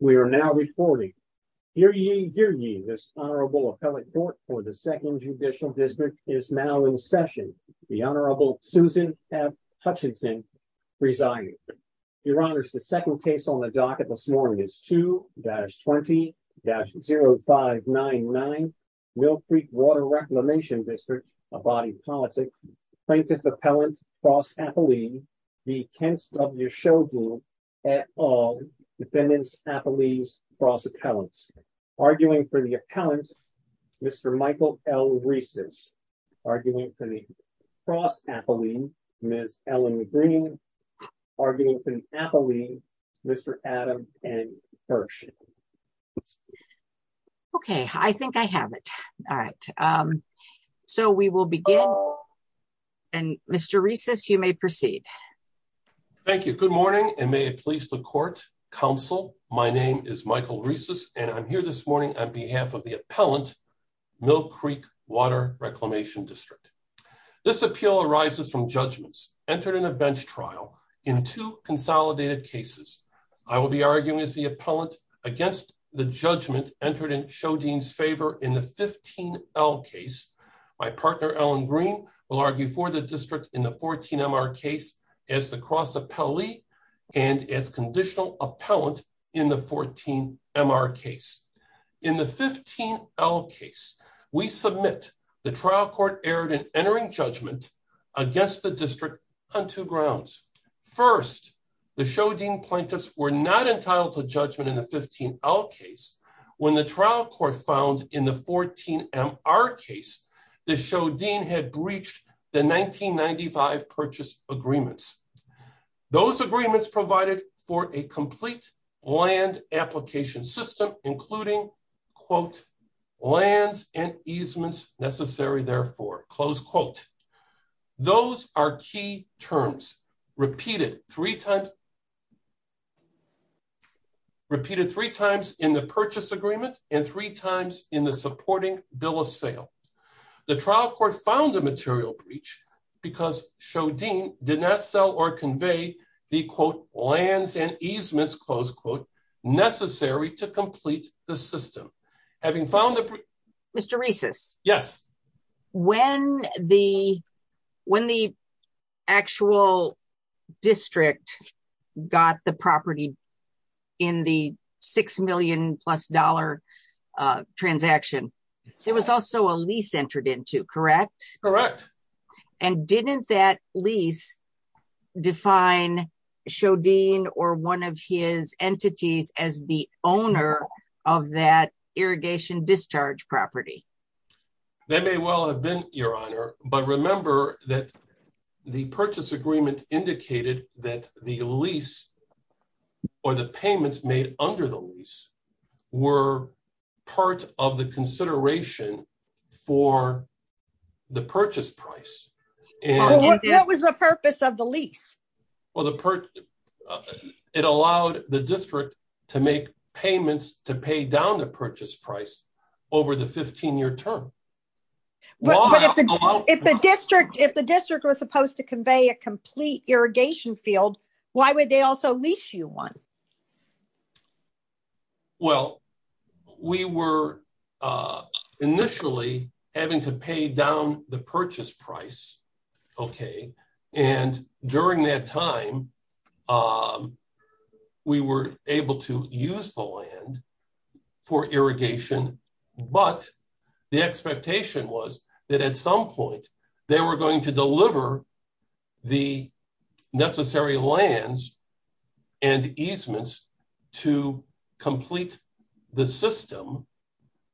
We are now reporting. Hear ye, hear ye, this Honorable Appellate Court for the Second Judicial District is now in session. The Honorable Susan F. Hutchinson presiding. Your Honors, the second case on the docket this morning is 2-20-0599, Mill Creek Water Reclamation District, a body politic, Plaintiff Appellant Cross Appellee v. Kent W. Shodeen et al. Defendants Appellees Cross Appellants. Arguing for the Appellant, Mr. Michael L. Reeses. Arguing for the Cross Appellee, Ms. Ellen Green. Arguing for the Appellee, Mr. Adam N. Kirsch. Okay, I think I have it. All right. So we will begin. And Mr. Reeses, you may proceed. Thank you. Good morning, and may it please the court, counsel. My name is Michael Reeses, and I'm here this morning on behalf of the Appellant, Mill Creek Water Reclamation District. This appeal arises from judgments entered in a bench trial in two consolidated cases. I will argue as the Appellant against the judgment entered in Shodeen's favor in the 15-L case. My partner, Ellen Green, will argue for the district in the 14-MR case as the Cross Appellee and as conditional Appellant in the 14-MR case. In the 15-L case, we submit the trial court erred in entering judgment against the district on two grounds. First, the Shodeen plaintiffs were not entitled to judgment in the 15-L case when the trial court found in the 14-MR case that Shodeen had breached the 1995 purchase agreements. Those agreements provided for a complete land application system, including, quote, lands and easements necessary therefore, close quote. Those are key terms repeated three times in the purchase agreement and three times in the supporting bill of sale. The trial court found a material breach because Shodeen did not sell or convey the, quote, lands and easements, close quote, necessary to complete the system. Having found Mr. Reeses? Yes. When the actual district got the property in the six million plus dollar transaction, there was also a lease entered into, correct? Correct. And didn't that lease define Shodeen or one of his entities as the owner of that irrigation discharge property? That may well have been, Your Honor, but remember that the purchase agreement indicated that the lease or the payments made under the lease were part of the consideration for the purchase price. What was the purpose of the lease? Well, it allowed the district to make payments to pay down the purchase price over the 15-year term. But if the district was supposed to convey a complete irrigation field, why would they also lease you one? Well, we were initially having to pay down the purchase price, okay, and during that time we were able to use the land for irrigation, but the expectation was that at some point they were going to deliver the necessary lands and easements to complete the system,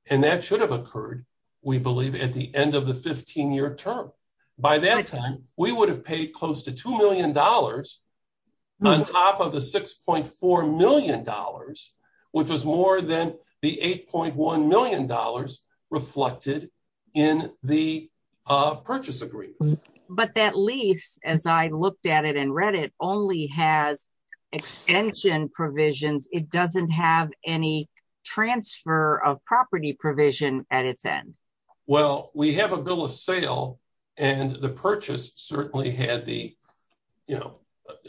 and that should have occurred, we believe, at the end of the 15-year term. By that time, we would have paid close to two million dollars on top of the 6.4 million dollars, which was more than the 8.1 million dollars reflected in the purchase agreement. But that lease, as I looked at it and read it, only has extension provisions. It doesn't have any transfer of property provision at its end. Well, we have a bill of sale and the purchase certainly had the, you know,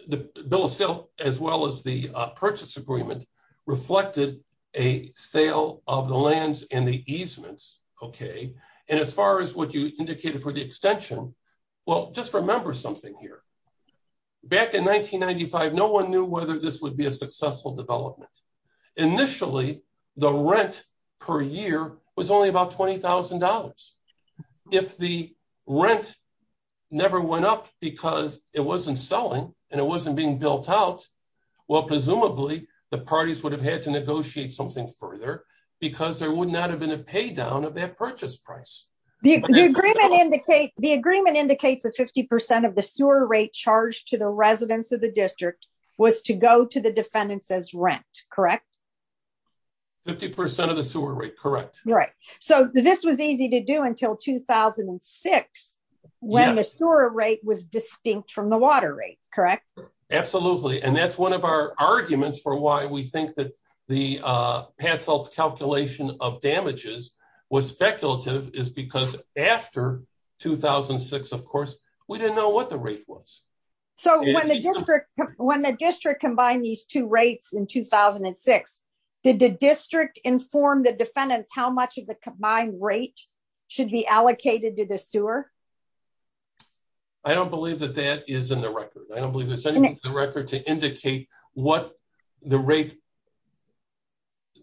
the bill of as well as the purchase agreement reflected a sale of the lands and the easements, okay, and as far as what you indicated for the extension, well, just remember something here. Back in 1995, no one knew whether this would be a successful development. Initially, the rent per year was only about 20,000 dollars. If the rent never went up because it wasn't selling and it well, presumably, the parties would have had to negotiate something further because there would not have been a pay down of that purchase price. The agreement indicates that 50 percent of the sewer rate charged to the residents of the district was to go to the defendants as rent, correct? 50 percent of the sewer rate, correct. Right, so this was easy to do until 2006 when the sewer rate was distinct from the water rate, correct? Absolutely, and that's one of our arguments for why we think that the Patsult's calculation of damages was speculative is because after 2006, of course, we didn't know what the rate was. So, when the district combined these two rates in 2006, did the district inform the defendants how much of the combined rate should be allocated to the sewer? I don't believe that that is in the record. I don't believe there's anything in the record to indicate what the rate.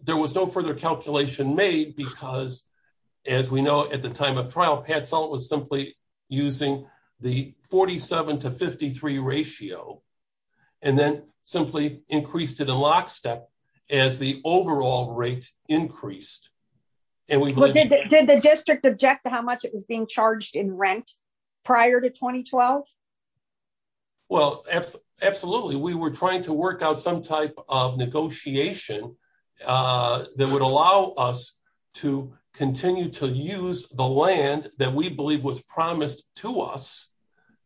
There was no further calculation made because, as we know, at the time of trial, Patsult was simply using the 47 to 53 ratio and then simply increased it in lockstep as the overall rate increased. And did the district object to how much it was being charged in rent prior to 2012? Well, absolutely. We were trying to work out some type of negotiation that would allow us to continue to use the land that we believe was promised to us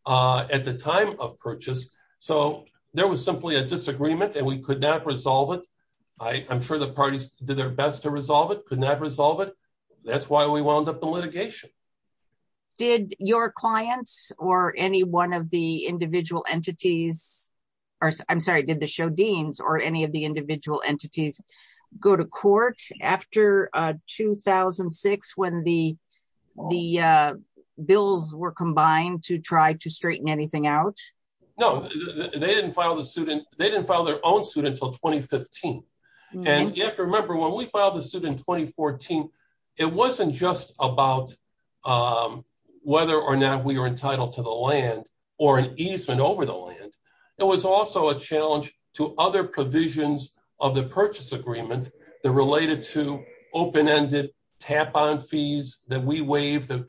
at the time of purchase. So, there was simply a disagreement and we could not resolve it. I'm sure the parties did their best to resolve it, but we could not resolve it. That's why we wound up in litigation. Did your clients or any one of the individual entities, I'm sorry, did the show deans or any of the individual entities go to court after 2006 when the bills were combined to try to straighten anything out? No, they didn't file their own suit until 2015. And you have to remember, when we filed the suit in 2014, it wasn't just about whether or not we were entitled to the land or an easement over the land. It was also a challenge to other provisions of the purchase agreement that related to open-ended tap-on fees that we waived that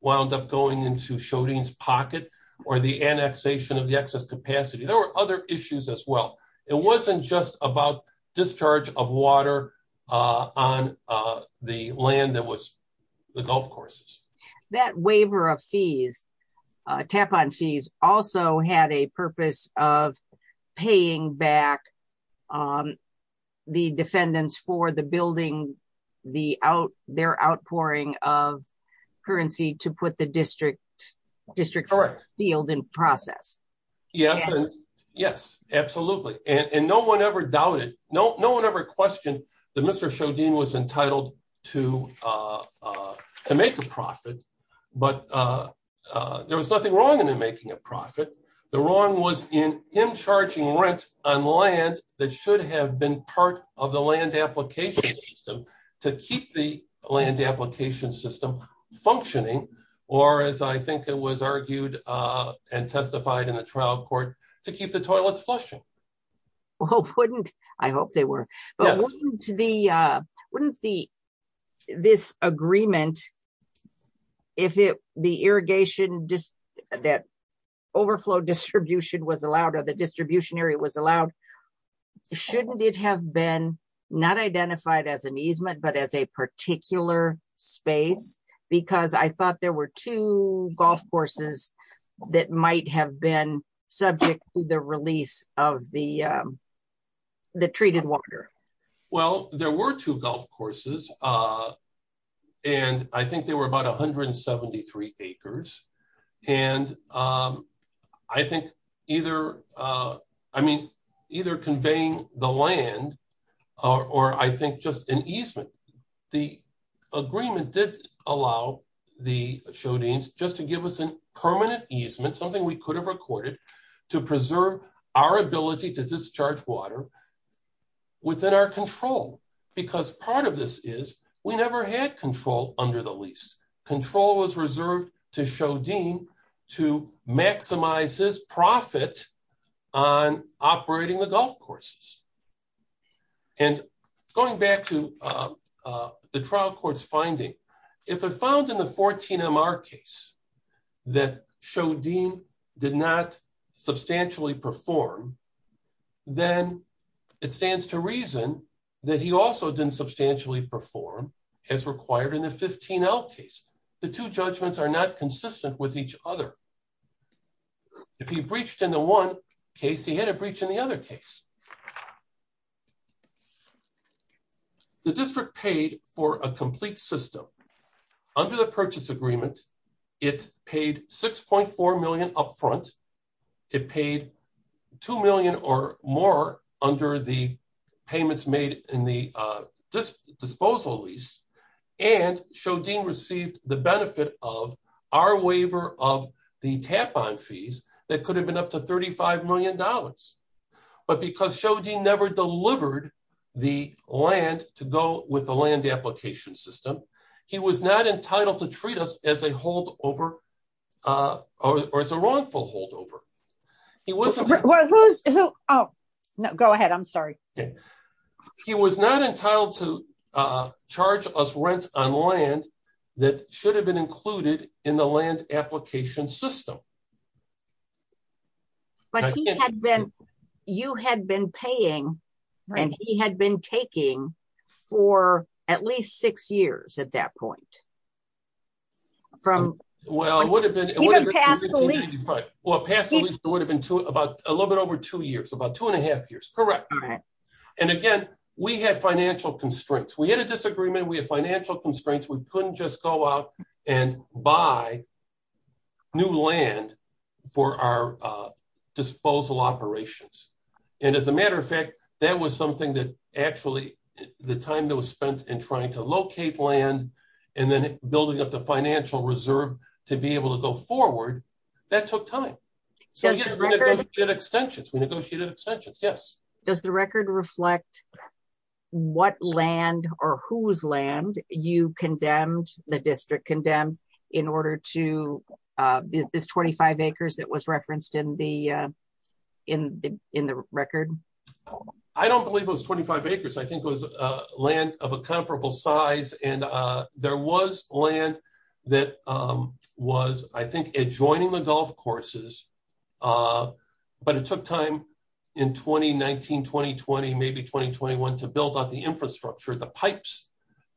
wound up going into show deans' pocket or the annexation of the excess capacity. There were other issues as well. It wasn't just about discharge of water on the land that was the golf courses. That waiver of fees, tap-on fees, also had a purpose of paying back the defendants for the building, their outpouring of currency to put the district field in process. Yes, absolutely. And no one ever doubted, no one ever questioned that Mr. Shodin was entitled to make a profit. But there was nothing wrong in him making a profit. The wrong was in him charging rent on land that should have been part of the land application to keep the land application system functioning or, as I think it was argued and testified in the trial court, to keep the toilets flushing. Well, wouldn't this agreement, if the overflow distribution was allowed or the distribution area was allowed, shouldn't it have been not identified as an easement but as a particular space? Because I thought there were two golf courses that might have been subject to the release of the treated water. Well, there were two golf courses and I think they were about 173 acres. And I think either conveying the land or I think just an easement, the agreement did allow the Shodins just to give us a permanent easement, something we could have recorded, to preserve our ability to discharge water within our control. Because part of this is we never had control under the lease. Control was reserved to Shodin to maximize his profit on operating the golf courses. And going back to the trial court's finding, if it found in the 14-MR case that Shodin did not substantially perform, then it stands to reason that he also didn't substantially perform as required in the 15-L case. The two judgments are not consistent with each other. If he breached in the one case, he had a breach in the other case. The district paid for a complete system. Under the purchase agreement, it paid $6.4 million upfront. It paid $2 million or more under the payments made in the disposal lease. And Shodin received the benefit of our waiver of the tap-on fees that could have been up to $35 million. But because Shodin never delivered the land to go with the land application system, he was not entitled to charge us rent on land that should have been included in the land application system. You had been paying and he had been taking for at least six years at that point. Well, it would have been a little bit over two years, about two and a half years. Correct. And again, we had financial constraints. We had a disagreement. We had financial constraints. We couldn't just go out and buy new land for our disposal operations. And as a matter of fact, that was something that actually the time that was spent in trying to locate land and then building up the financial reserve to be able to go forward, that took time. So we negotiated extensions. We negotiated extensions. Yes. Does the record reflect what land or whose land you condemned, the district condemned, in order to, is this 25 acres that was referenced in the record? I don't believe it was 25 acres. I think it was land of a comparable size. And there was land that was, I think, adjoining the golf courses. But it took time in 2019, 2020, maybe 2021, to build up the infrastructure, the pipes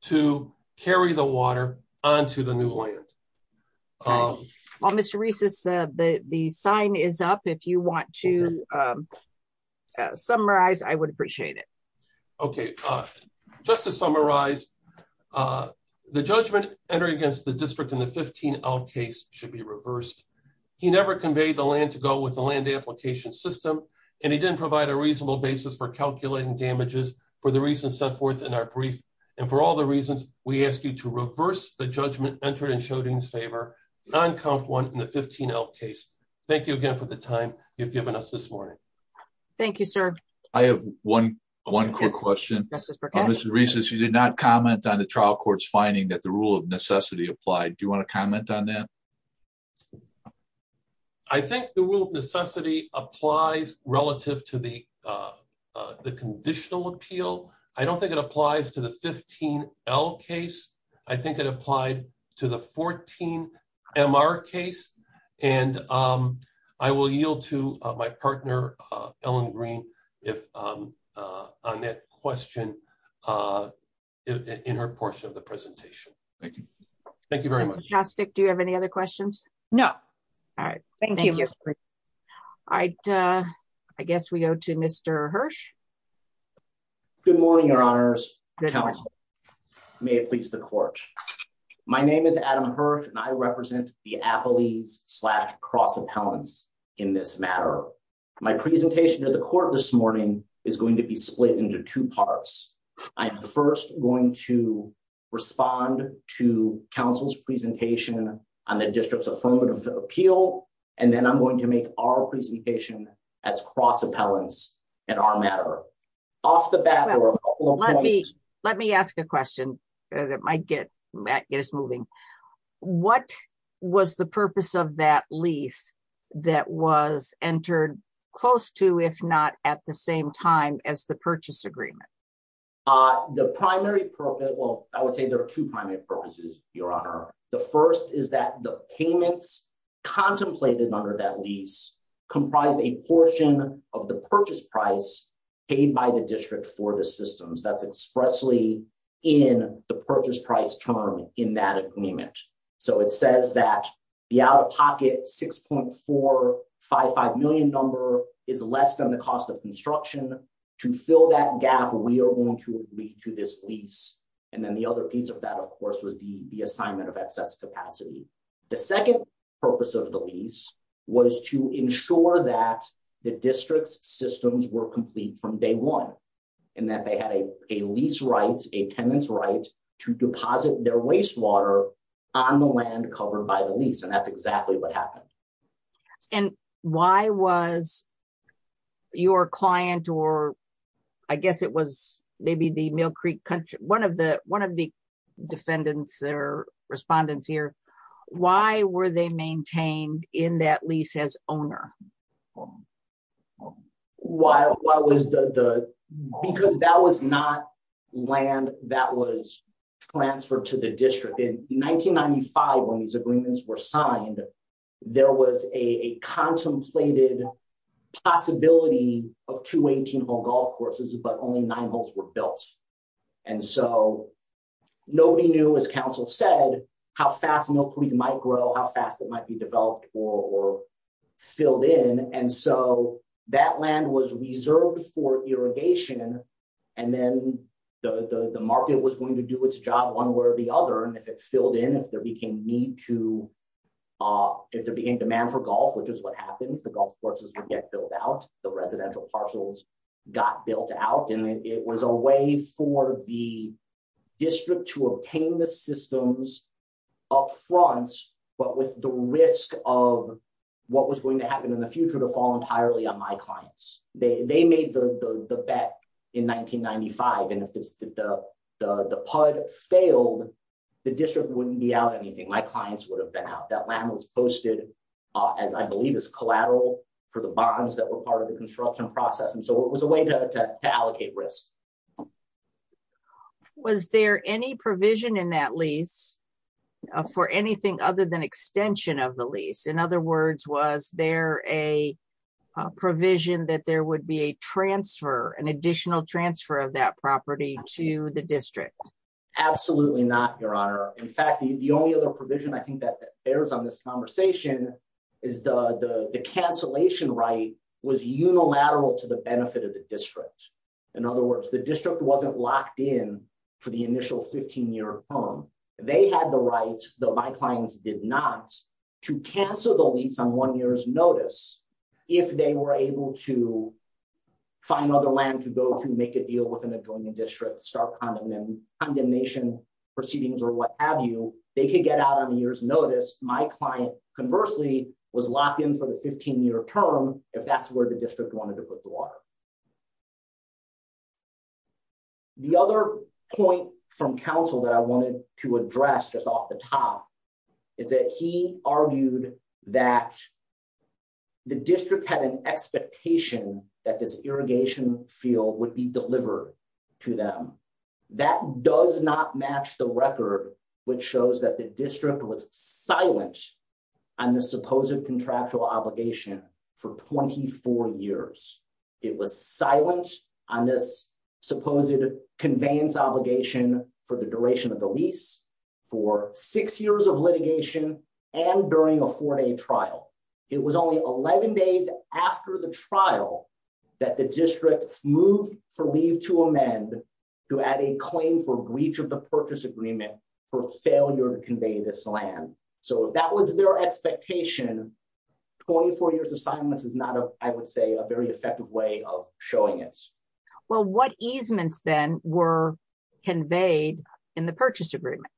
to carry the water onto the new land. Well, Mr. Reese, the sign is up. If you want to summarize, I would appreciate it. Okay. Just to summarize, the judgment entering against the district in the 15L case should be reversed. He never conveyed the land to go with the land application system, and he didn't provide a reasonable basis for calculating damages for the reasons set forth in our brief. And for all the reasons, we ask you to reverse the judgment entered in Schrodinger's favor on count one in the 15L case. Thank you again for the time you've given us this morning. Thank you, sir. I have one quick question. Mr. Reese, you did not comment on the trial court's finding that the rule of necessity applied. Do you want to comment on that? I think the rule of necessity applies relative to the conditional appeal. I don't think it applies to the 15L case. I think it applied to the 14MR case. And I will yield to my partner, Ellen Green, on that question in her portion of the presentation. Thank you very much. Mr. Jostik, do you have any other questions? No. All right. Thank you, Mr. Reese. All right. I guess we go to Mr. Hirsch. Good morning, Your Honors. May it please the court. My name is Adam Hirsch, and I represent the Appellees slash Cross Appellants in this matter. My presentation to the court this morning is going to be split into two parts. I'm first going to respond to counsel's presentation on the district's affirmative appeal, and then I'm going to make our presentation as Cross Appellants in our matter. Off the bat, there are a couple of points. Let me ask a question that might get us moving. What was the purpose of that lease that was entered close to, if not at the same time, as the purchase agreement? The primary purpose, well, I would say there are two primary purposes, Your Honor. The first is that the payments contemplated under that lease comprised a portion of the purchase price paid by the district for the systems. That's expressly in the purchase price term in that agreement. It says that the out-of-pocket $6.455 million number is less than the cost of construction. To fill that gap, we are going to agree to this lease. Then the other piece of that, of course, was the assignment of excess capacity. The second purpose of the lease was to ensure that the district's systems were complete from day one, and that they had a lease right, a tenant's right, to deposit their wastewater on the land covered by the lease. That's exactly what happened. Why was your client, or I guess it was maybe the Mill Creek, one of the defendants or respondents here, why were they maintained in that lease as owner? Well, because that was not land that was transferred to the district. In 1995, when these agreements were signed, there was a contemplated possibility of two 18-hole golf courses, but only nine holes were built. Nobody knew, as counsel said, how fast Mill Creek might grow, how fast it might be developed or filled in. That land was reserved for irrigation, and then the market was going to do its job one way or the other. If it filled in, if there became demand for golf, which is what happened, the golf courses would get built out, the residential parcels got built out. It was a way for the district to obtain the systems up front, but with the risk of what was going to happen in the future to fall entirely on my clients. They made the bet in 1995, and if the PUD failed, the district wouldn't be out anything. My clients would have been out. That land was posted, as I believe, as collateral for the bonds that were part of the construction process, and so it was a way to allocate risk. Was there any provision in that lease for anything other than extension of the lease? In other words, was there a provision that there would be a transfer, an additional transfer of that property to the district? Absolutely not, Your Honor. In fact, the only other provision I think that bears on this conversation is the cancellation right was unilateral to the benefit of the district. In other words, the district wasn't locked in for the initial 15-year term. They had the right, though my clients did not, to cancel the lease on one year's notice if they were able to find other land to go to make a deal with an adjoining district, start condemnation proceedings or what have you. They could get out on a year's notice. My client, conversely, was locked in for 15-year term if that's where the district wanted to put the water. The other point from counsel that I wanted to address just off the top is that he argued that the district had an expectation that this irrigation field would be delivered to them. That does not match the record which shows that the district was silent on the supposed contractual obligation for 24 years. It was silent on this supposed conveyance obligation for the duration of the lease, for six years of litigation, and during a four-day trial. It was only 11 days after the trial that the district moved for leave to amend to add a claim for breach of the purchase agreement for failure to convey this land. If that was their expectation, 24 years of silence is not, I would say, a very effective way of showing it. What easements then were conveyed in the purchase agreement?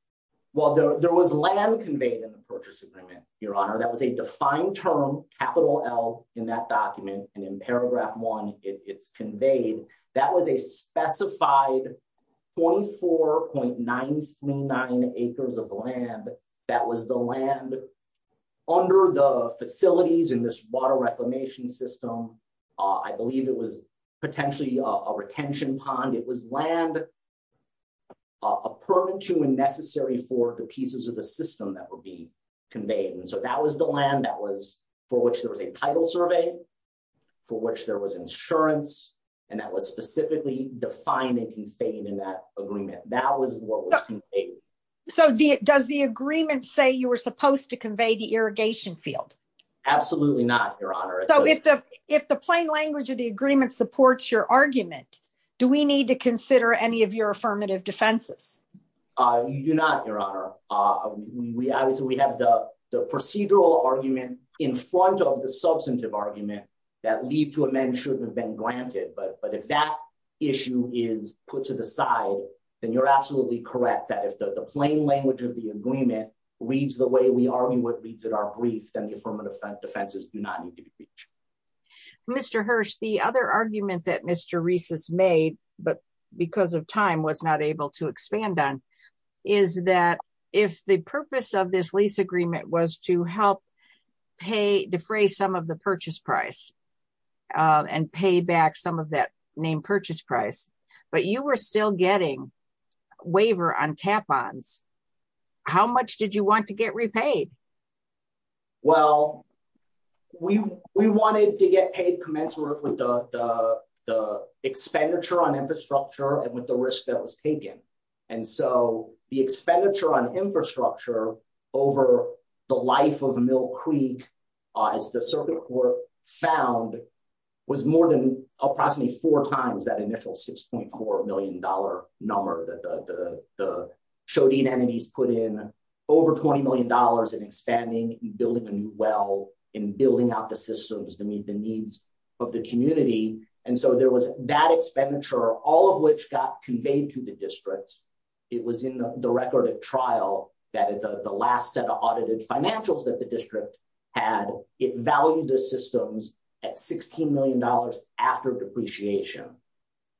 There was land conveyed in the purchase agreement, Your Honor. That was a defined term, capital L, in that document. In paragraph one, it's conveyed. That was a specified 24.939 acres of land that was the land under the facilities in this water reclamation system. I believe it was potentially a retention pond. It was land a permit to and necessary for the pieces of the system that would be a title survey, for which there was insurance, and that was specifically defined and conveyed in that agreement. That was what was conveyed. Does the agreement say you were supposed to convey the irrigation field? Absolutely not, Your Honor. If the plain language of the agreement supports your argument, do we need to consider any of your affirmative defenses? You do not, Your Honor. Obviously, we have the procedural argument in front of the substantive argument that leave to amend shouldn't have been granted, but if that issue is put to the side, then you're absolutely correct that if the plain language of the agreement reads the way we argue what reads in our brief, then the affirmative defenses do not need to be breached. Mr. Hirsch, the other argument that Mr. Reiss has made, but because of time was not able to expand on, is that if the purpose of this lease agreement was to help defray some of the purchase price and pay back some of that name purchase price, but you were still getting waiver on tap ponds, how much did you want to get repaid? Well, we wanted to get paid commensurate with the expenditure on infrastructure and with the risk that was taken, and so the expenditure on infrastructure over the life of Mill Creek, as the circuit court found, was more than approximately four times that initial $6.4 million number that the Shodine enemies put in, over $20 million in expanding and building a new well and building out the systems to meet the community, and so there was that expenditure, all of which got conveyed to the district. It was in the record of trial that the last set of audited financials that the district had, it valued the systems at $16 million after depreciation.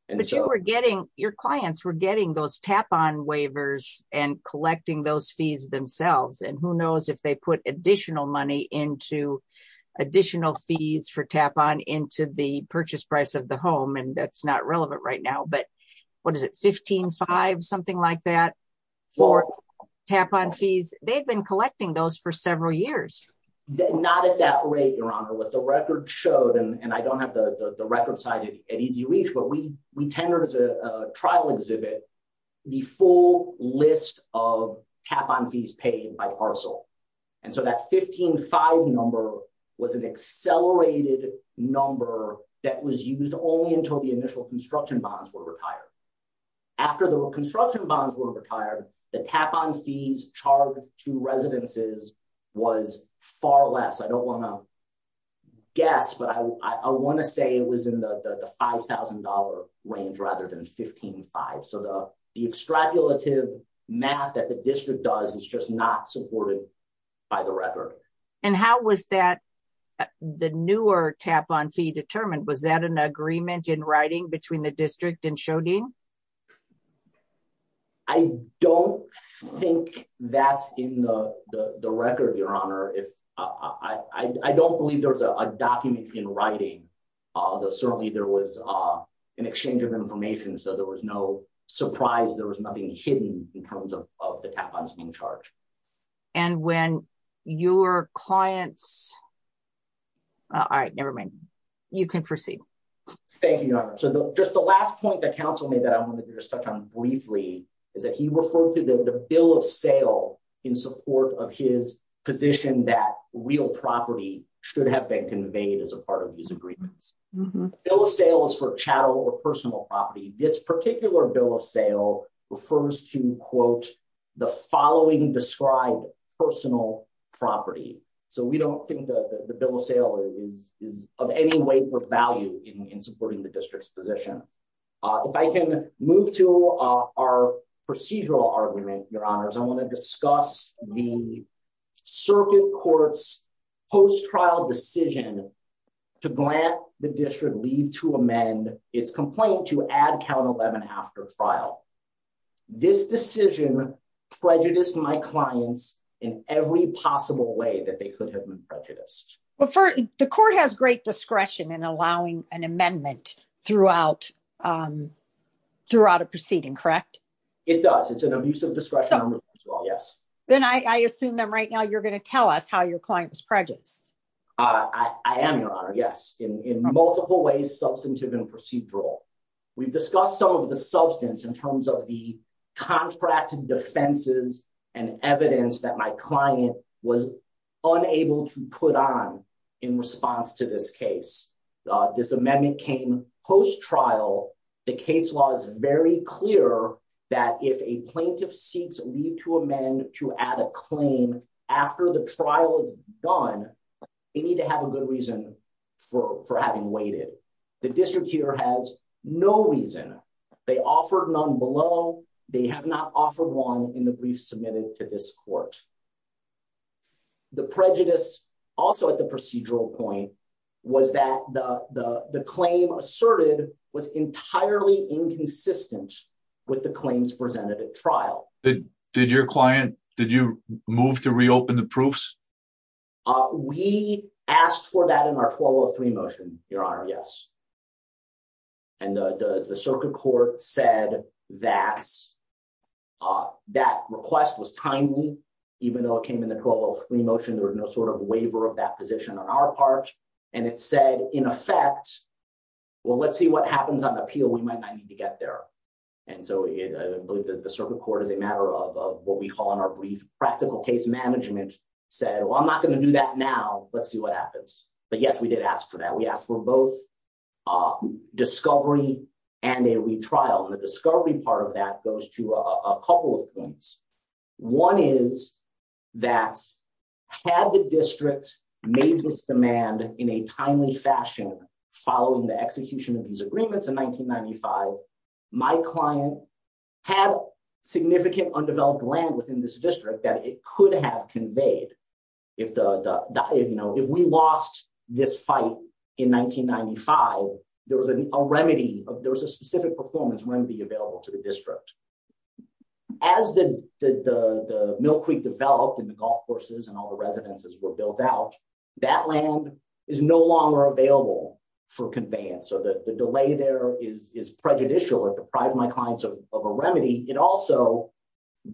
But you were getting, your clients were getting those tap on waivers and collecting those fees themselves, and who knows if put additional money into additional fees for tap on into the purchase price of the home, and that's not relevant right now, but what is it, $15,500, something like that for tap on fees, they've been collecting those for several years. Not at that rate, Your Honor, what the record showed, and I don't have the record side at easy reach, but we tendered as a trial exhibit the full list of tap on fees paid by parcel, and so that $15,500 number was an accelerated number that was used only until the initial construction bonds were retired. After the construction bonds were retired, the tap on fees charged to residences was far less. I don't the extrapolative math that the district does is just not supported by the record. And how was that, the newer tap on fee determined, was that an agreement in writing between the district and Schrodinger? I don't think that's in the record, Your Honor. I don't believe there was a document in writing, although certainly there was an exchange of information, so there was no surprise, there was nothing hidden in terms of the tap ons being charged. And when your clients, all right, nevermind, you can proceed. Thank you, Your Honor. So just the last point that counsel made that I want to just touch on briefly is that he referred to the bill of sale in support of his position that real property should have been conveyed as a part of these agreements. Bill of sale is for chattel or personal property. This particular bill of sale refers to, quote, the following described personal property. So we don't think the bill of sale is of any way for value in supporting the district's position. If I can move to our procedural argument, Your Honors, I want to discuss the post-trial decision to grant the district leave to amend its complaint to add count 11 after trial. This decision prejudiced my clients in every possible way that they could have been prejudiced. But the court has great discretion in allowing an amendment throughout a proceeding, correct? It does. It's an abusive discretion as well, yes. Then I assume that right now you're going to tell us how your client was prejudiced. I am, Your Honor, yes, in multiple ways, substantive and procedural. We've discussed some of the substance in terms of the contracted defenses and evidence that my client was unable to put on in response to this case. This amendment came post-trial. The case law is very clear that if a plaintiff seeks leave to amend to add a claim after the trial is done, they need to have a good reason for having waited. The district here has no reason. They offered none below. They have not offered one in the briefs submitted to this court. The prejudice also at the procedural point was that the claim asserted was entirely inconsistent with the claims presented at trial. Did your client, did you move to reopen the proofs? We asked for that in our 1203 motion, Your Honor, yes. And the circuit court said that request was timely, even though it came in the 1203 motion, there was no sort of waiver of that position on our part. And it said, in effect, well, let's see what happens on appeal. We might not need to get there. And so I believe that the circuit court is a matter of what we call in our brief practical case management said, well, I'm not going to do that now. Let's see what happens. But yes, we did ask for that. We asked for both discovery and a retrial. And the discovery part of that goes to a couple of points. One is that had the district made this demand in a timely fashion following the execution of these agreements in 1995, my client had significant undeveloped land within this district that it could have conveyed. If we lost this fight in 1995, there was a specific performance remedy available to the district. As the Mill Creek developed and the golf courses and all the residences were built out, that land is no longer available for conveyance. So the delay there is prejudicial. It deprived my clients of a remedy. It also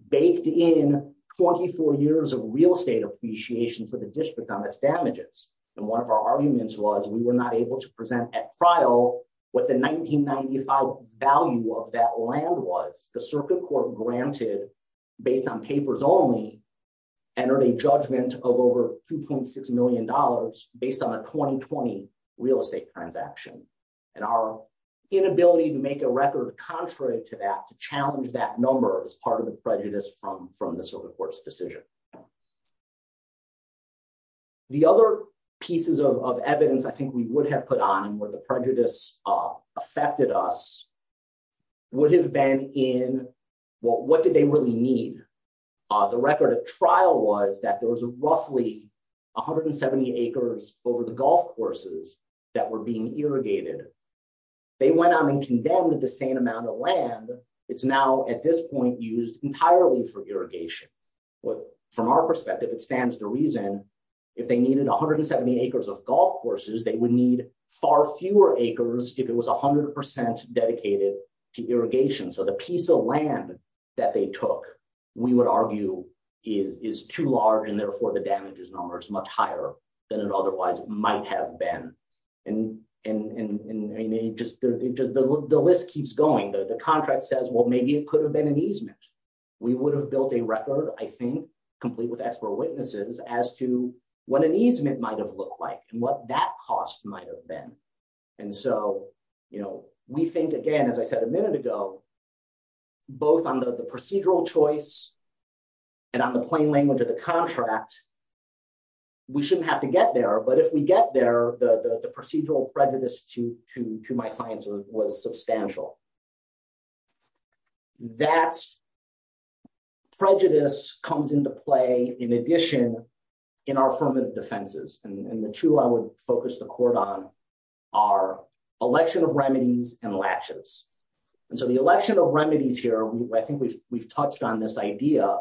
baked in 24 years of real estate appreciation for the district on its damages. And one of our arguments was we were not able to present at trial what the 1995 value of that land was. The circuit court granted, based on papers only, entered a judgment of over 2.6 million dollars based on a 2020 real estate transaction. And our inability to make a record contrary to that, to challenge that number, is part of the prejudice from the circuit court's decision. The other pieces of evidence I think we would have put on where the prejudice affected us would have been in, well, what did they really need? The record of trial was that there was a 170 acres over the golf courses that were being irrigated. They went on and condemned the same amount of land. It's now, at this point, used entirely for irrigation. But from our perspective, it stands to reason if they needed 170 acres of golf courses, they would need far fewer acres if it was 100 percent dedicated to irrigation. So the piece of land that they took, we would argue, is too large and therefore the damages number is much higher than it otherwise might have been. The list keeps going. The contract says, well, maybe it could have been an easement. We would have built a record, I think, complete with expert witnesses, as to what an easement might have looked like and what that cost might have been. And so we think, again, as I said a and on the plain language of the contract, we shouldn't have to get there. But if we get there, the procedural prejudice to my clients was substantial. That prejudice comes into play, in addition, in our affirmative defenses. And the two I would focus the court on are election of remedies and latches. And so the election of remedies here, I think we've that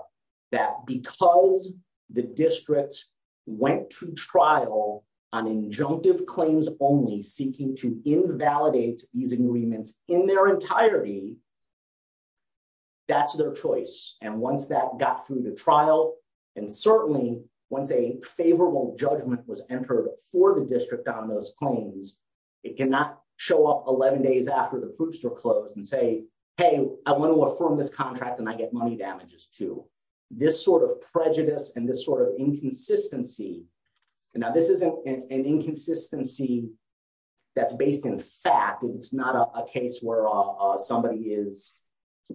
because the district went to trial on injunctive claims only seeking to invalidate these agreements in their entirety. That's their choice. And once that got through the trial, and certainly once a favorable judgment was entered for the district on those claims, it cannot show up 11 days after the groups are closed and say, hey, I want to affirm this sort of prejudice and this sort of inconsistency. Now, this isn't an inconsistency that's based in fact. It's not a case where somebody is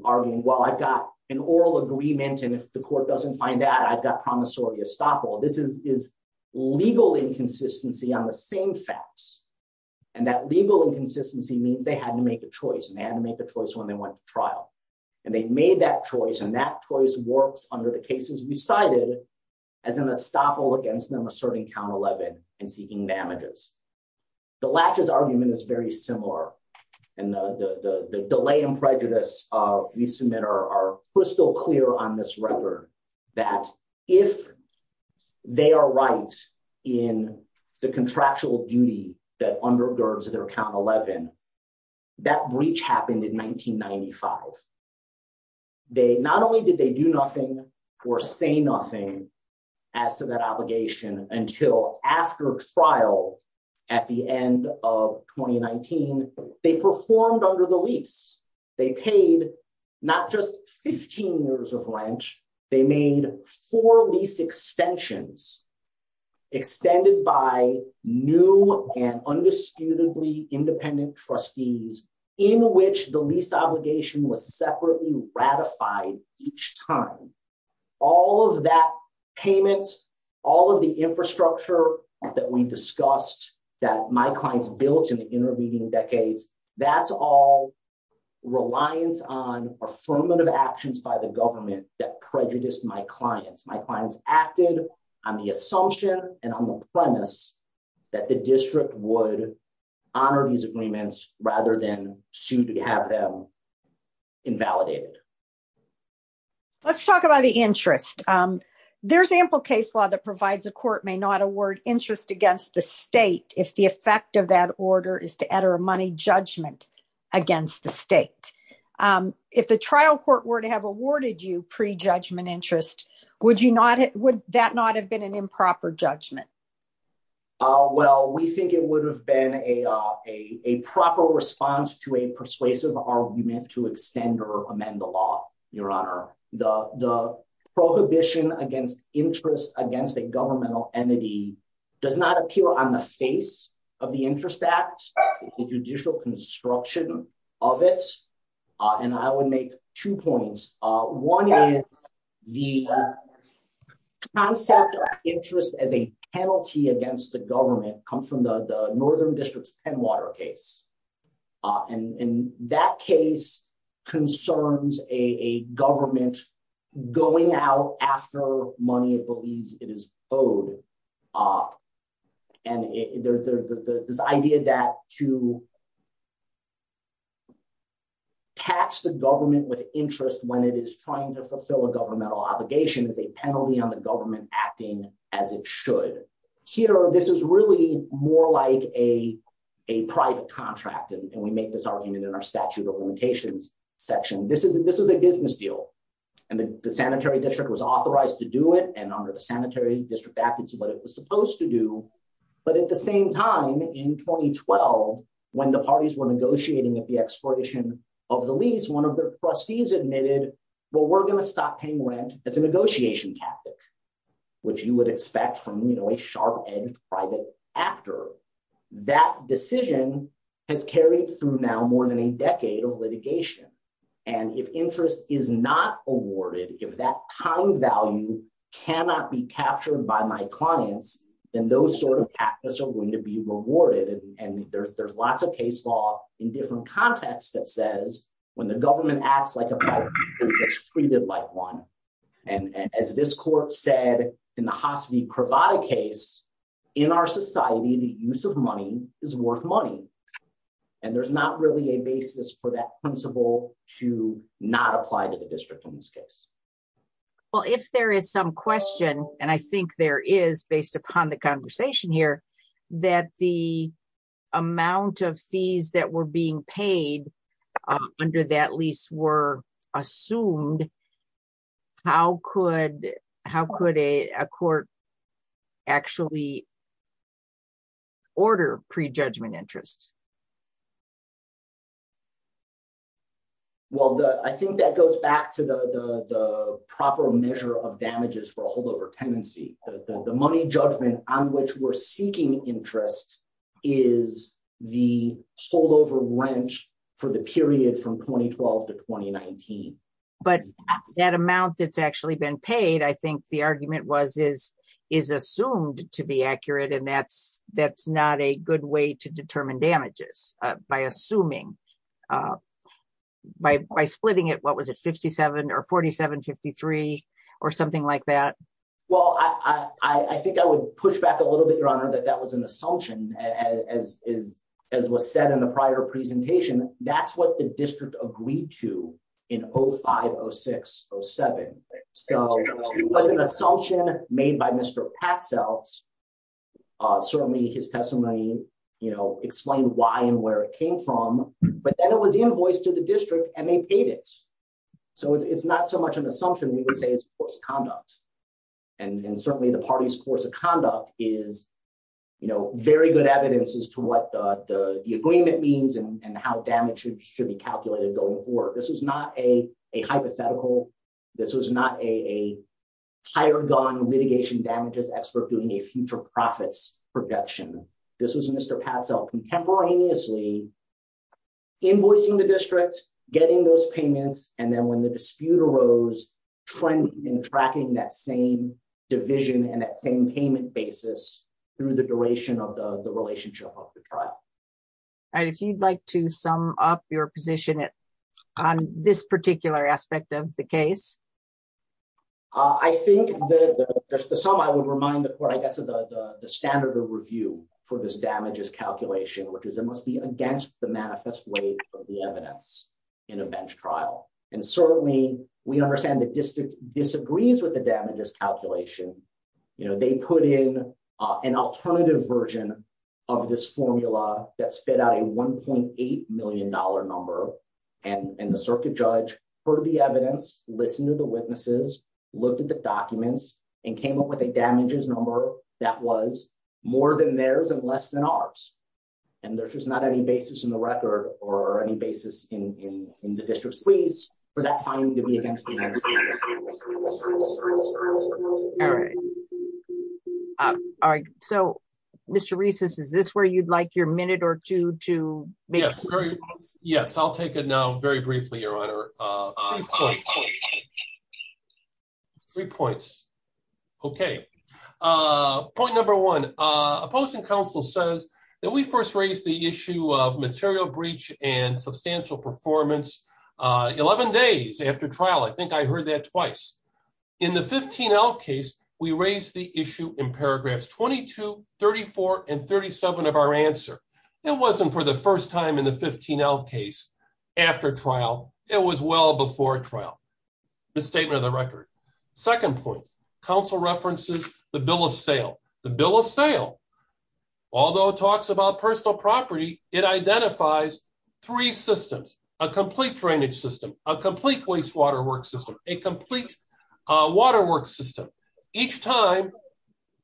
arguing, well, I've got an oral agreement. And if the court doesn't find that, I've got promissory estoppel. This is legal inconsistency on the same facts. And that legal inconsistency means they had to make a choice. And they had to make a choice when they went to trial. And they made that choice. And that choice works under the cases we cited as an estoppel against them asserting count 11 and seeking damages. The latches argument is very similar. And the delay and prejudice we submit are crystal clear on this record that if they are right in the contractual duty that undergirds their count 11, that breach happened in 1995. Not only did they do nothing or say nothing as to that obligation until after trial at the end of 2019, they performed under the lease. They paid not just 15 years of rent. They made four lease extensions extended by new and undisputedly independent trustees in which the lease obligation was separately ratified each time. All of that payment, all of the infrastructure that we discussed that my clients built in the intervening decades, that's all reliance on affirmative actions by the government that prejudiced my clients. My clients acted on the assumption and on the premise that the district would honor these agreements rather than sue to have them invalidated. Let's talk about the interest. There's ample case law that provides a court may not award interest against the state if the effect of that order is to enter a money judgment against the state. If the trial court were to have awarded you pre-judgment interest, would that not have been an improper judgment? Well, we think it would have been a proper response to a persuasive argument to extend or amend the law, Your Honor. The prohibition against interest against a governmental entity does not appear on the face of the Interest Act, the judicial construction of it. I would make two points. One is the concept of interest as a penalty against the government comes from the northern district's Pennwater case. That case concerns a government going out after money it when it is trying to fulfill a governmental obligation as a penalty on the government acting as it should. Here, this is really more like a private contract, and we make this argument in our statute of limitations section. This is a business deal, and the sanitary district was authorized to do it, and under the Sanitary District Act, it's what it was supposed to do. But at the same time, in 2012, when the parties were negotiating at the expiration of the lease, one of their trustees admitted, well, we're going to stop paying rent as a negotiation tactic, which you would expect from a sharp-edged private actor. That decision has carried through now more than a decade of litigation, and if interest is not awarded, if that time value cannot be captured by my clients, then those sort of patents are going to be rewarded, and there's lots of case in different contexts that says when the government acts like a pirate, it gets treated like one. And as this court said in the Hasseby-Cravada case, in our society, the use of money is worth money, and there's not really a basis for that principle to not apply to the district in this case. Well, if there is some question, and I think there is based upon the conversation here, that the amount of fees that were being paid under that lease were assumed, how could a court actually order prejudgment interest? Well, I think that goes back to the proper measure of damages for a holdover tenancy. The money judgment on which we're seeking interest is the holdover rent for the period from 2012 to 2019. But that amount that's actually been paid, I think the argument was, is assumed to be accurate, and that's not a good way to determine damages by assuming, by splitting it, or 47-53, or something like that. Well, I think I would push back a little bit, Your Honor, that that was an assumption. As was said in the prior presentation, that's what the district agreed to in 05-06-07. So it was an assumption made by Mr. Patzelt, certainly his testimony explained why and where it came from, but then it was invoiced to the district. So it's not so much an assumption, we would say it's course of conduct. And certainly the party's course of conduct is very good evidence as to what the agreement means and how damage should be calculated going forward. This was not a hypothetical, this was not a higher gun litigation damages expert doing a future profits projection. This was Mr. Patzelt contemporaneously invoicing the district, getting those payments, and then when the dispute arose, in tracking that same division and that same payment basis through the duration of the relationship of the trial. And if you'd like to sum up your position on this particular aspect of the case? I think the sum I would remind the court, I guess, of the standard of review for this damages calculation, which is it must be against the manifest weight of the evidence in a bench trial. And certainly we understand the district disagrees with the damages calculation. They put in an alternative version of this formula that spit out a $1.8 million number, and the circuit judge heard the evidence, listened to the witnesses, looked at the documents, and came up with a damages number that was more than theirs and less than ours. And there's just not any basis in the record or any basis in the district's case for that finding to be against the manifest weight. All right. So Mr. Rees, is this where you'd like your minute or two to make? Yes, I'll take it now very briefly, Your Honor. Three points. Okay. Point number one, opposing counsel says that we first raised the issue of material breach and substantial performance 11 days after trial. I think I heard that twice. In the 15L case, we raised the issue in paragraphs 22, 34, and 37 of our answer. It wasn't for the first time in the 15L case after trial. It was well before trial, the statement of the record. Second point, counsel references the bill of sale. The bill of sale, although it talks about personal property, it identifies three systems, a complete drainage system, a complete wastewater work system, a complete water work system. Each time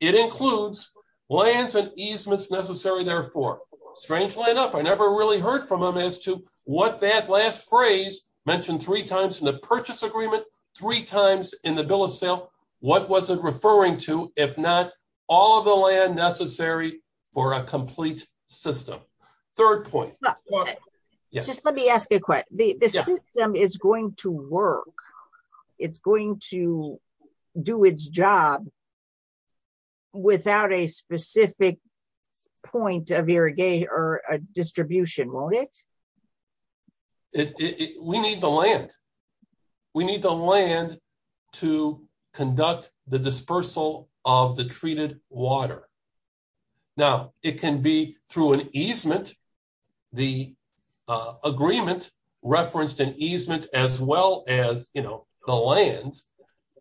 it includes lands and easements necessary therefore. Strangely enough, I never really heard from them as to what that last phrase mentioned three times in the purchase agreement, three times in the bill of sale. What was it referring to if not all of the land necessary for a complete system? Third point. Just let me ask a question. The system is going to work. It's going to do its job without a specific point of irrigation or distribution, won't it? We need the land. We need the land to conduct the dispersal of the treated water. Now, it can be through an easement. The agreement referenced an easement as well as the lands.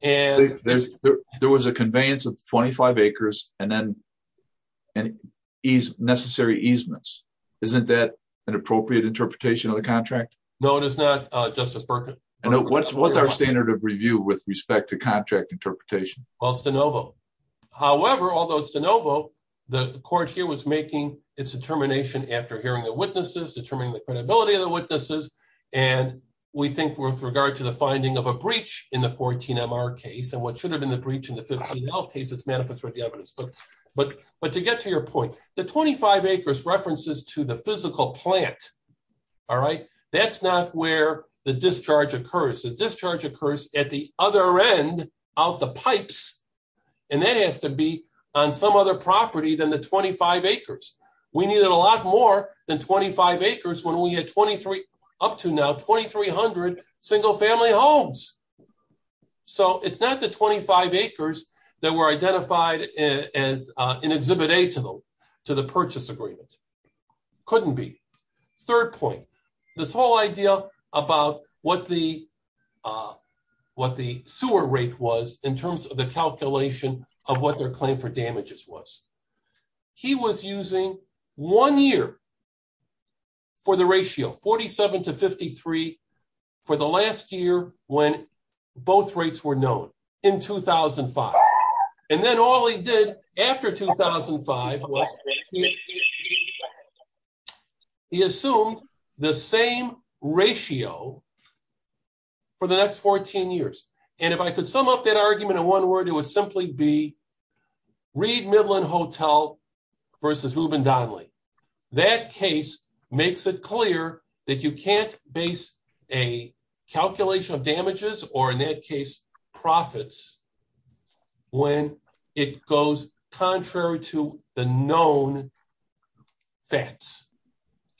And there was a conveyance of 25 acres and then necessary easements. Isn't that an appropriate interpretation of the contract? No, it is not, Justice Burkett. And what's our standard of review with respect to contract interpretation? Well, it's de novo. However, although it's de novo, the court here was making its determination after hearing the witnesses, determining the breach in the 14-MR case and what should have been the breach in the 15-L case. But to get to your point, the 25 acres references to the physical plant, all right? That's not where the discharge occurs. The discharge occurs at the other end of the pipes. And that has to be on some other property than the 25 acres. We needed a lot more than 25 acres when we had up to now 2,300 single-family homes. So it's not the 25 acres that were identified as an Exhibit A to the purchase agreement. Couldn't be. Third point, this whole idea about what the sewer rate was in terms of the calculation of what their claim for damages was. He was using one year for the ratio, 47 to 53, for the last year when both rates were known, in 2005. And then all he did after 2005 was he assumed the same ratio for the next 14 years. And if I could sum up that case, makes it clear that you can't base a calculation of damages or in that case profits when it goes contrary to the known facts.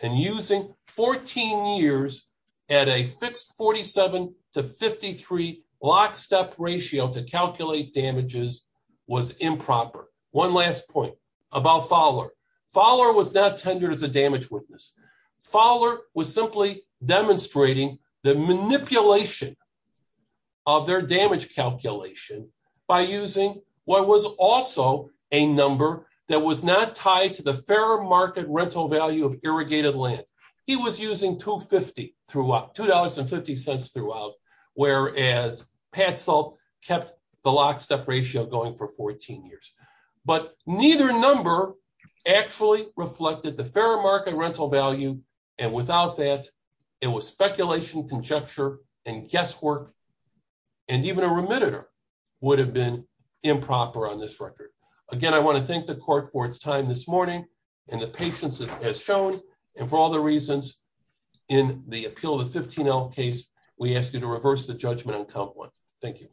And using 14 years at a fixed 47 to 53 lockstep ratio to calculate damages was improper. One last point about Fowler. Fowler was not a damage witness. Fowler was simply demonstrating the manipulation of their damage calculation by using what was also a number that was not tied to the fair market rental value of irrigated land. He was using $2.50 throughout, whereas Patsell kept the lockstep ratio going for 14 years. But neither number actually reflected the fair market rental value. And without that, it was speculation, conjecture, and guesswork. And even a remitter would have been improper on this record. Again, I want to thank the court for its time this morning and the patience it has shown. And for all the reasons in the appeal of the 15L case, we ask you to reverse the judgment Thank you.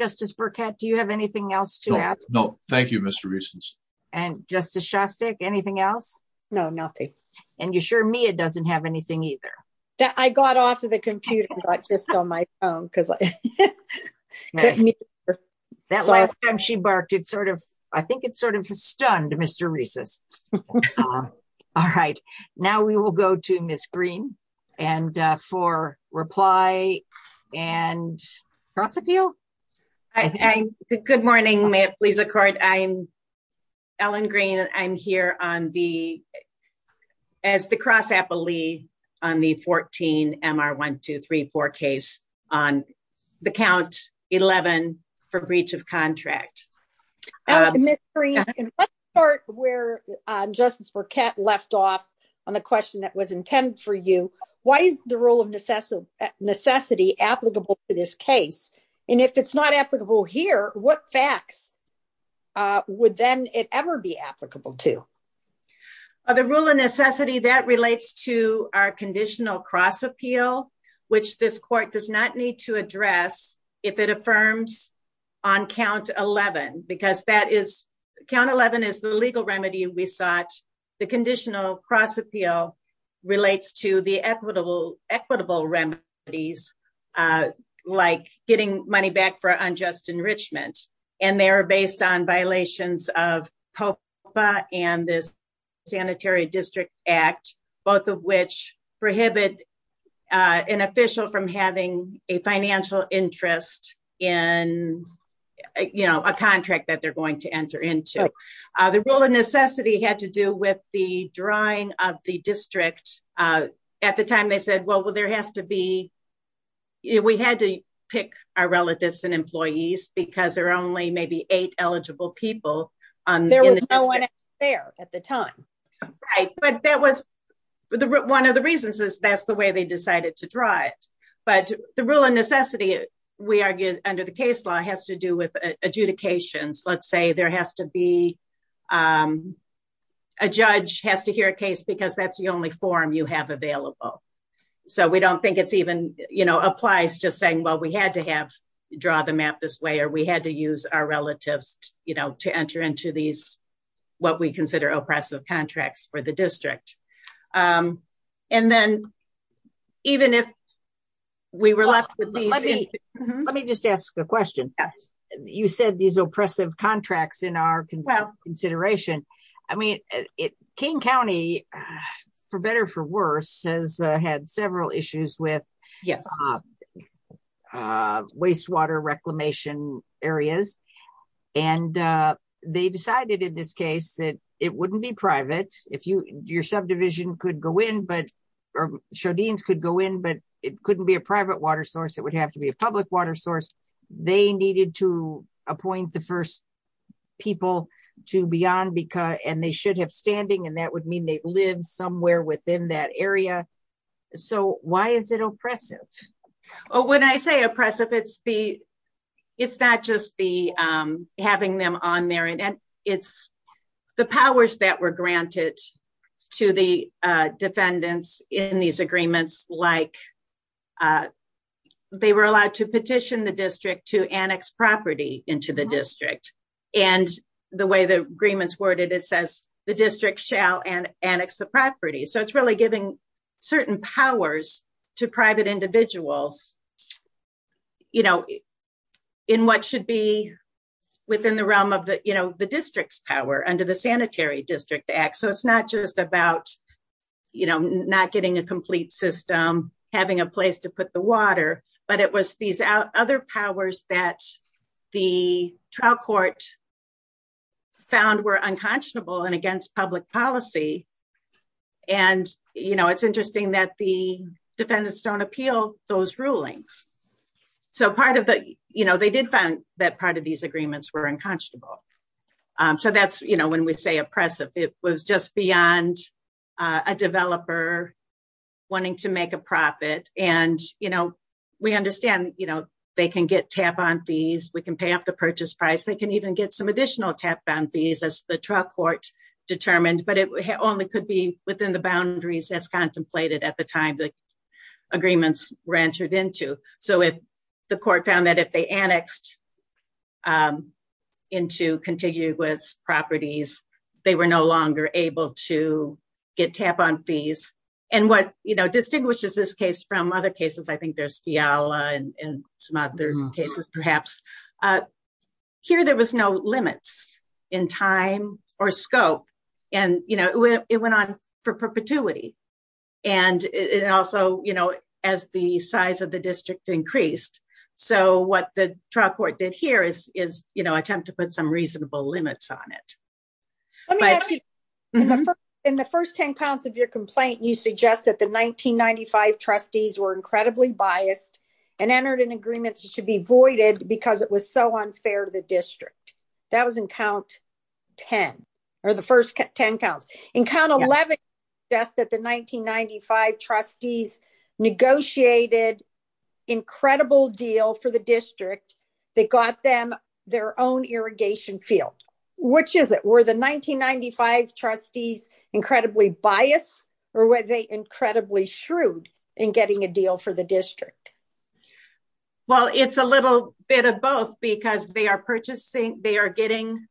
Justice Burkett, do you have anything else to add? No. Thank you, Mr. Reeses. And Justice Shostak, anything else? No, nothing. And you're sure Mia doesn't have anything either? That I got off of the computer, not just on my phone because I couldn't hear her. That last time she barked, I think it sort of stunned Mr. Reeses. All right. Now we will go to Ms. Green for reply and cross-appeal. Good morning. May it please the court. I'm Ellen Green. I'm here as the cross-appellee on the 14MR1234 case on the count 11 for breach of you. Why is the rule of necessity applicable to this case? And if it's not applicable here, what facts would then it ever be applicable to? The rule of necessity that relates to our conditional cross-appeal, which this court does not need to address if it affirms on count 11, because count 11 is the legal remedy we sought. The conditional cross-appeal relates to the equitable remedies, like getting money back for unjust enrichment. And they are based on violations of COPA and this Sanitary District Act, both of which prohibit an official from having a financial interest in a contract that they're going to enter into. The rule of necessity had to do with the drawing of the district. At the time they said, well, there has to be, we had to pick our relatives and employees because there are only maybe eight eligible people. There was no one there at the time. Right. But that was one of the reasons is that's the way they decided to draw it. But the rule of necessity, we argue under the case law has to do with adjudications. Let's say there has to be, a judge has to hear a case because that's the only form you have available. So we don't think it's even applies just saying, well, we had to have draw the map this way, or we had to use our relatives to enter into these, what we consider oppressive contracts for the district. And then even if we were left with these. Let me just ask a question. Yes. You said these oppressive contracts in our consideration. I mean, King County, for better, for worse, has had several issues with waste water reclamation areas. And they decided in this case that it wouldn't be private. Your subdivision could go in, but, or Chaudine's could go in, but it couldn't be a private water source. It would have to be a public water source. They needed to appoint the first people to be on because, and they should have standing. And that would mean they live somewhere within that area. So why is it oppressive? Oh, when I say oppressive, it's the, it's not just the having them on there. And it's the powers that were granted to the defendants in these agreements, like they were allowed to petition the district to annex property into the district. And the way the agreements worded, it says the district shall annex the property. So it's really giving certain powers to private individuals in what should be within the realm of the district's power under the Sanitary District Act. So it's not just about not getting a complete system, having a place to put the water, but it was these other powers that the trial court found were unconscionable and against public policy. And, you know, it's interesting that the defendants don't appeal those rulings. So part of the, you know, they did find that part of these agreements were unconscionable. So that's, you know, when we say oppressive, it was just beyond a developer wanting to make a profit. And, you know, we understand, you know, they can get tap on fees, we can pay off the only could be within the boundaries as contemplated at the time the agreements were entered into. So if the court found that if they annexed into contiguous properties, they were no longer able to get tap on fees. And what, you know, distinguishes this case from other cases, I think there's Fiala and some other cases, perhaps. But here, there was no limits in time or scope. And, you know, it went on for perpetuity. And it also, you know, as the size of the district increased. So what the trial court did here is, you know, attempt to put some reasonable limits on it. In the first 10 pounds of your complaint, you suggest that the 1995 trustees were incredibly biased and entered in agreements should be voided because it was so unfair to the district. That was in count 10, or the first 10 counts in count 11. Yes, that the 1995 trustees negotiated incredible deal for the district, they got them their own irrigation field, which is it were the trustees incredibly bias, or were they incredibly shrewd in getting a deal for the district? Well, it's a little bit of both, because they are purchasing, they are getting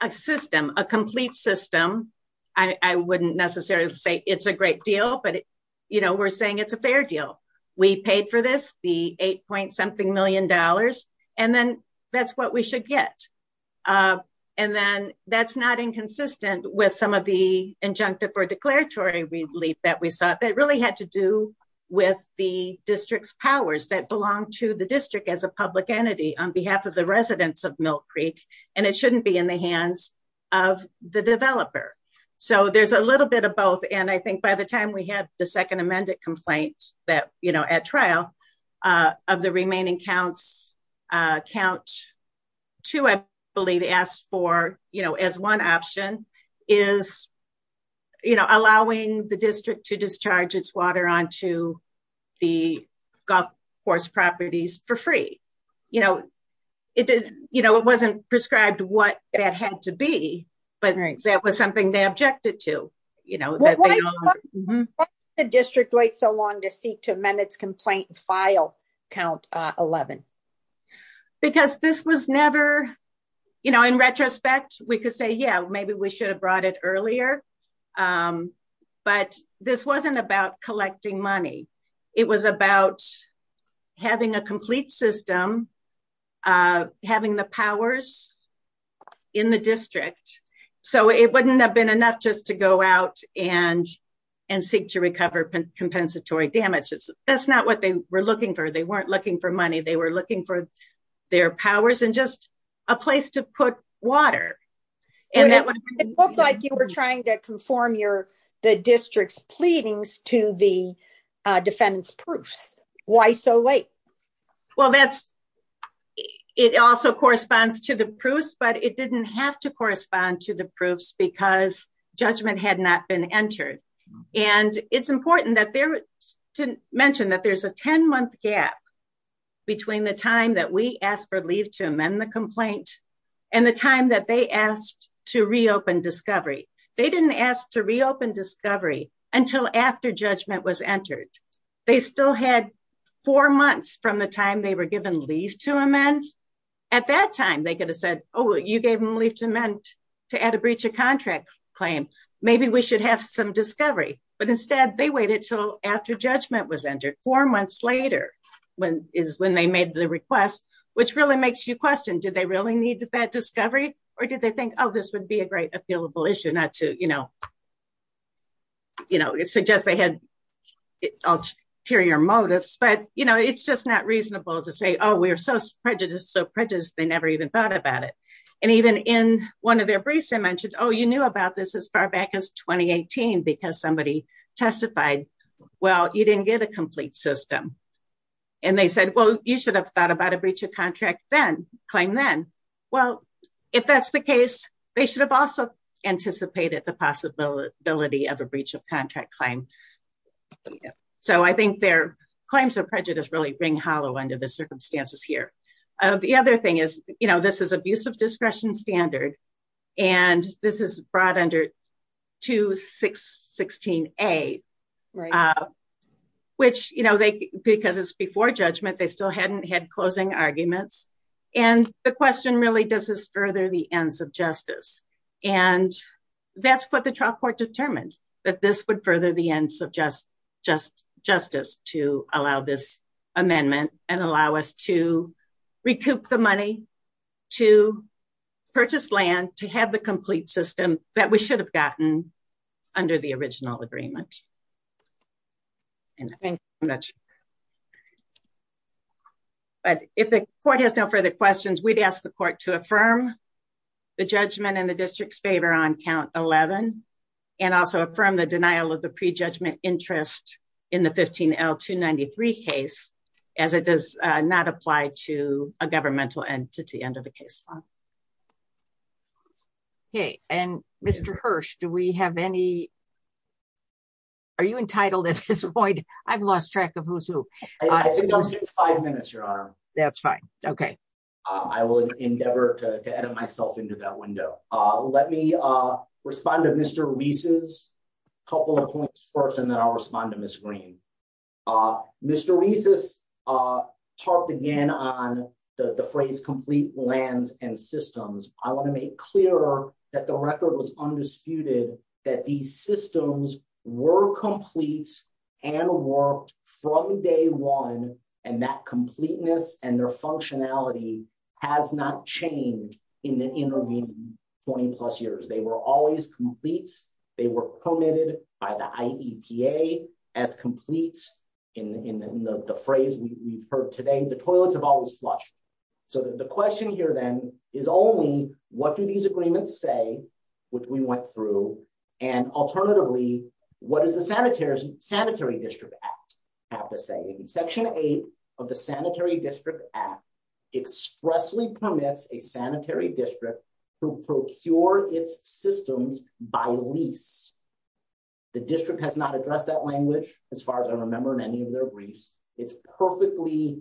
a system, a complete system. I wouldn't necessarily say it's a great deal. But, you know, we're saying it's a fair deal. We paid for this the eight point something million dollars. And then that's what we should get. And then that's not inconsistent with some of the injunctive or declaratory relief that we saw that really had to do with the district's powers that belong to the district as a public entity on behalf of the residents of Mill Creek. And it shouldn't be in the hands of the developer. So there's a little bit of both. And I think by the time we had the second amended complaint that you know, at trial of the remaining counts, count two, I believe asked for, you know, as one option is, you know, allowing the district to discharge its water onto the golf course properties for free. You know, it didn't, you know, it wasn't prescribed what that had to be. But that was something they objected to, you know, the district waits so long to seek to amend its file count 11. Because this was never, you know, in retrospect, we could say, yeah, maybe we should have brought it earlier. But this wasn't about collecting money. It was about having a complete system, having the powers in the district. So it wouldn't have been enough just to go out and, and seek to recover compensatory damages. That's not what they were looking for. They weren't looking for money, they were looking for their powers and just a place to put water. And that would look like you were trying to conform your the district's pleadings to the defendant's proofs. Why so late? Well, that's it also corresponds to the proofs, it didn't have to correspond to the proofs because judgment had not been entered. And it's important that there to mention that there's a 10 month gap between the time that we asked for leave to amend the complaint. And the time that they asked to reopen discovery, they didn't ask to reopen discovery until after judgment was entered. They still had four months from the at that time, they could have said, oh, you gave them leave to amend to add a breach of contract claim, maybe we should have some discovery. But instead, they waited till after judgment was entered four months later, when is when they made the request, which really makes you question, did they really need that discovery? Or did they think, oh, this would be a great appealable issue not to, you know, you know, it suggests they had ulterior motives. But you know, it's just not reasonable to say, oh, we're so prejudiced, so prejudiced, they never even thought about it. And even in one of their briefs, I mentioned, oh, you knew about this as far back as 2018, because somebody testified, well, you didn't get a complete system. And they said, well, you should have thought about a breach of contract then claim then. Well, if that's the case, they should have also anticipated the possibility of a breach of contract claim. So I think their claims of prejudice really ring hollow under the circumstances here. The other thing is, you know, this is abusive discretion standard. And this is brought under to 616. A, which, you know, they because it's before judgment, they still hadn't had closing arguments. And the question really does this further the ends of justice. And that's what trial court determined that this would further the ends of just just justice to allow this amendment and allow us to recoup the money to purchase land to have the complete system that we should have gotten under the original agreement. And thank you much. But if the court has no further questions, we'd ask the court to affirm the judgment in the district's favor on count 11. And also from the denial of the prejudgment interest in the 15 l 293 case, as it does not apply to a governmental entity under the case. Okay, and Mr. Hirsch, do we have any? Are you entitled at this point? I've lost track of who's I think I'm six, five minutes, Your Honor. That's fine. Okay. I will endeavor to edit myself into that window. Let me respond to Mr. Reese's couple of points first, and then I'll respond to Miss Green. Mr. Reese's talked again on the phrase complete lands and systems. I want to make clear that the record was undisputed that these systems were complete and worked from day one. And that completeness and their functionality has not changed in the intervening 20 plus years. They were always complete. They were permitted by the IEPA as complete in the phrase we've heard today, the toilets have always flushed. So the question here then is only what do these agreements say, which we went through? And alternatively, what is the Sanitary District Act have to say? Section eight of the Sanitary District Act expressly permits a sanitary district to procure its systems by lease. The district has not addressed that language as far as I remember in any of their briefs. It's perfectly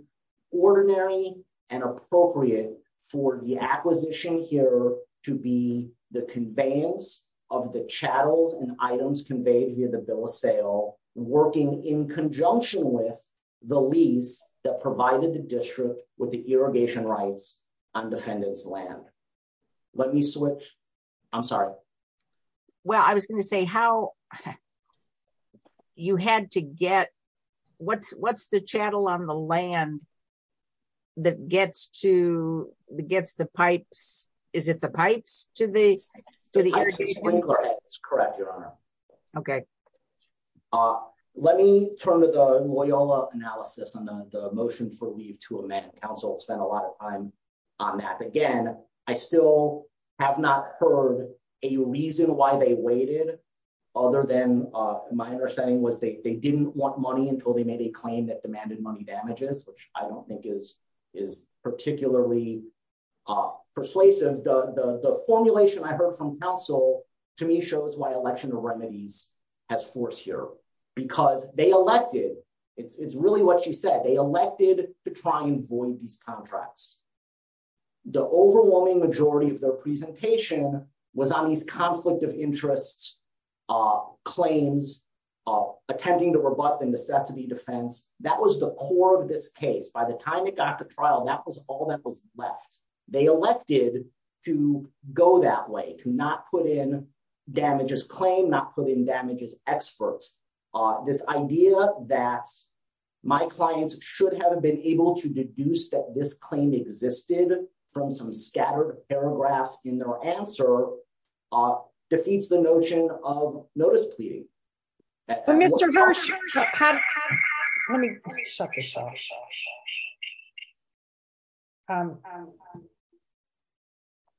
ordinary and appropriate for the acquisition here to be the conveyance of the channels and items conveyed via the bill of sale, working in conjunction with the lease that provided the district with the irrigation rights on defendant's land. Let me switch. I'm sorry. Well, I was going to say how you had to get what's the channel on the land that gets to the gets the pipes? Is it the pipes to the sprinkler? It's correct, Your Honor. Okay. Let me turn to the Loyola analysis on the motion for leave to amend. Council spent a lot of time on that. Again, I still have not heard a reason why they waited other than my understanding was they didn't want money until they made a claim that demanded money which I don't think is particularly persuasive. The formulation I heard from council to me shows why election of remedies has force here because they elected. It's really what she said. They elected to try and void these contracts. The overwhelming majority of their presentation was on these conflict of interests claims of attempting to rebut the necessity defense. That was the core of this case. By the time it got to trial, that was all that was left. They elected to go that way, to not put in damages claim, not put in damages experts. This idea that my clients should have been able to deduce that this claim existed from some research.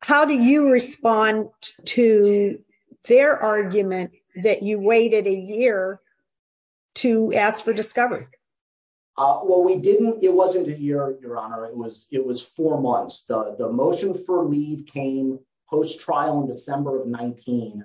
How do you respond to their argument that you waited a year to ask for discovery? Well, we didn't. It wasn't a year, Your Honor. It was four months. The motion for leave came post-trial in December of 19.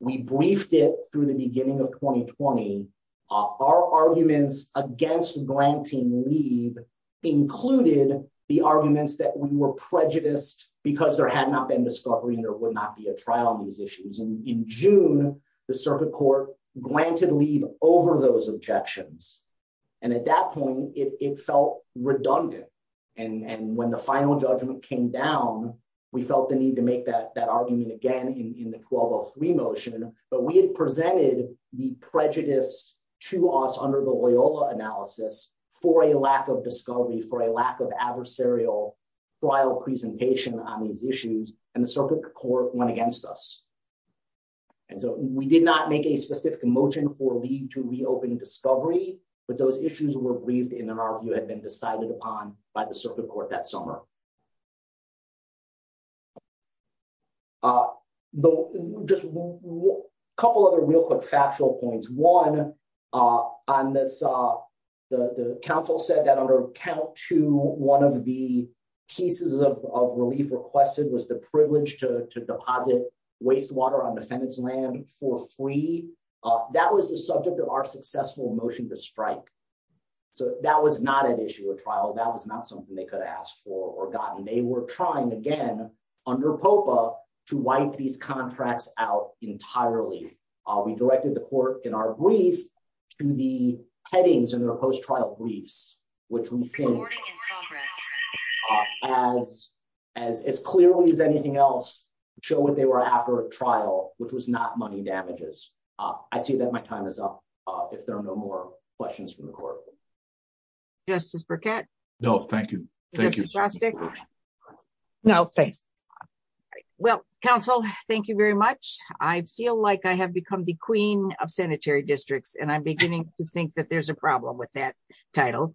We briefed it through the beginning of 2020. Our arguments against granting leave included the arguments that we were prejudiced because there had not been discovery and there would not be a trial on these issues. In June, the circuit court granted leave over those objections. At that point, it felt redundant. When the final judgment came down, we felt the need to make that argument again in the 1203 motion, but we had presented the prejudice to us under the Loyola analysis for a lack of discovery, for a lack of adversarial trial presentation on these issues, and the circuit court went against us. We did not make a specific motion for leave to reopen discovery, but those issues were briefed and in our view had been decided upon by the circuit court that we were prejudiced. Just a couple of other real quick factual points. One, on this, the counsel said that under count two, one of the pieces of relief requested was the privilege to deposit wastewater on defendant's land for free. That was the subject of our successful motion to strike. So that was not an issue of trial. That was not something they could ask for or gotten. They were trying again under POPA to wipe these contracts out entirely. We directed the court in our brief to the headings in their post-trial briefs, which we think as clearly as anything else, show what they were after a trial, which was not money damages. I see that my time is up if there are no more questions from the court. Thank you. Justice Burkett. No, thank you. No, thanks. Well, counsel, thank you very much. I feel like I have become the queen of sanitary districts and I'm beginning to think that there's a problem with that title.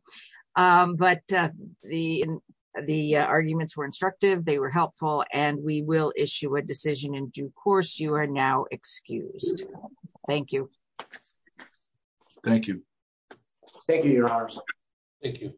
But the arguments were instructive, they were helpful, and we will issue a decision in due course. You are now excused. Thank you. Thank you. Thank you, your honors. Thank you.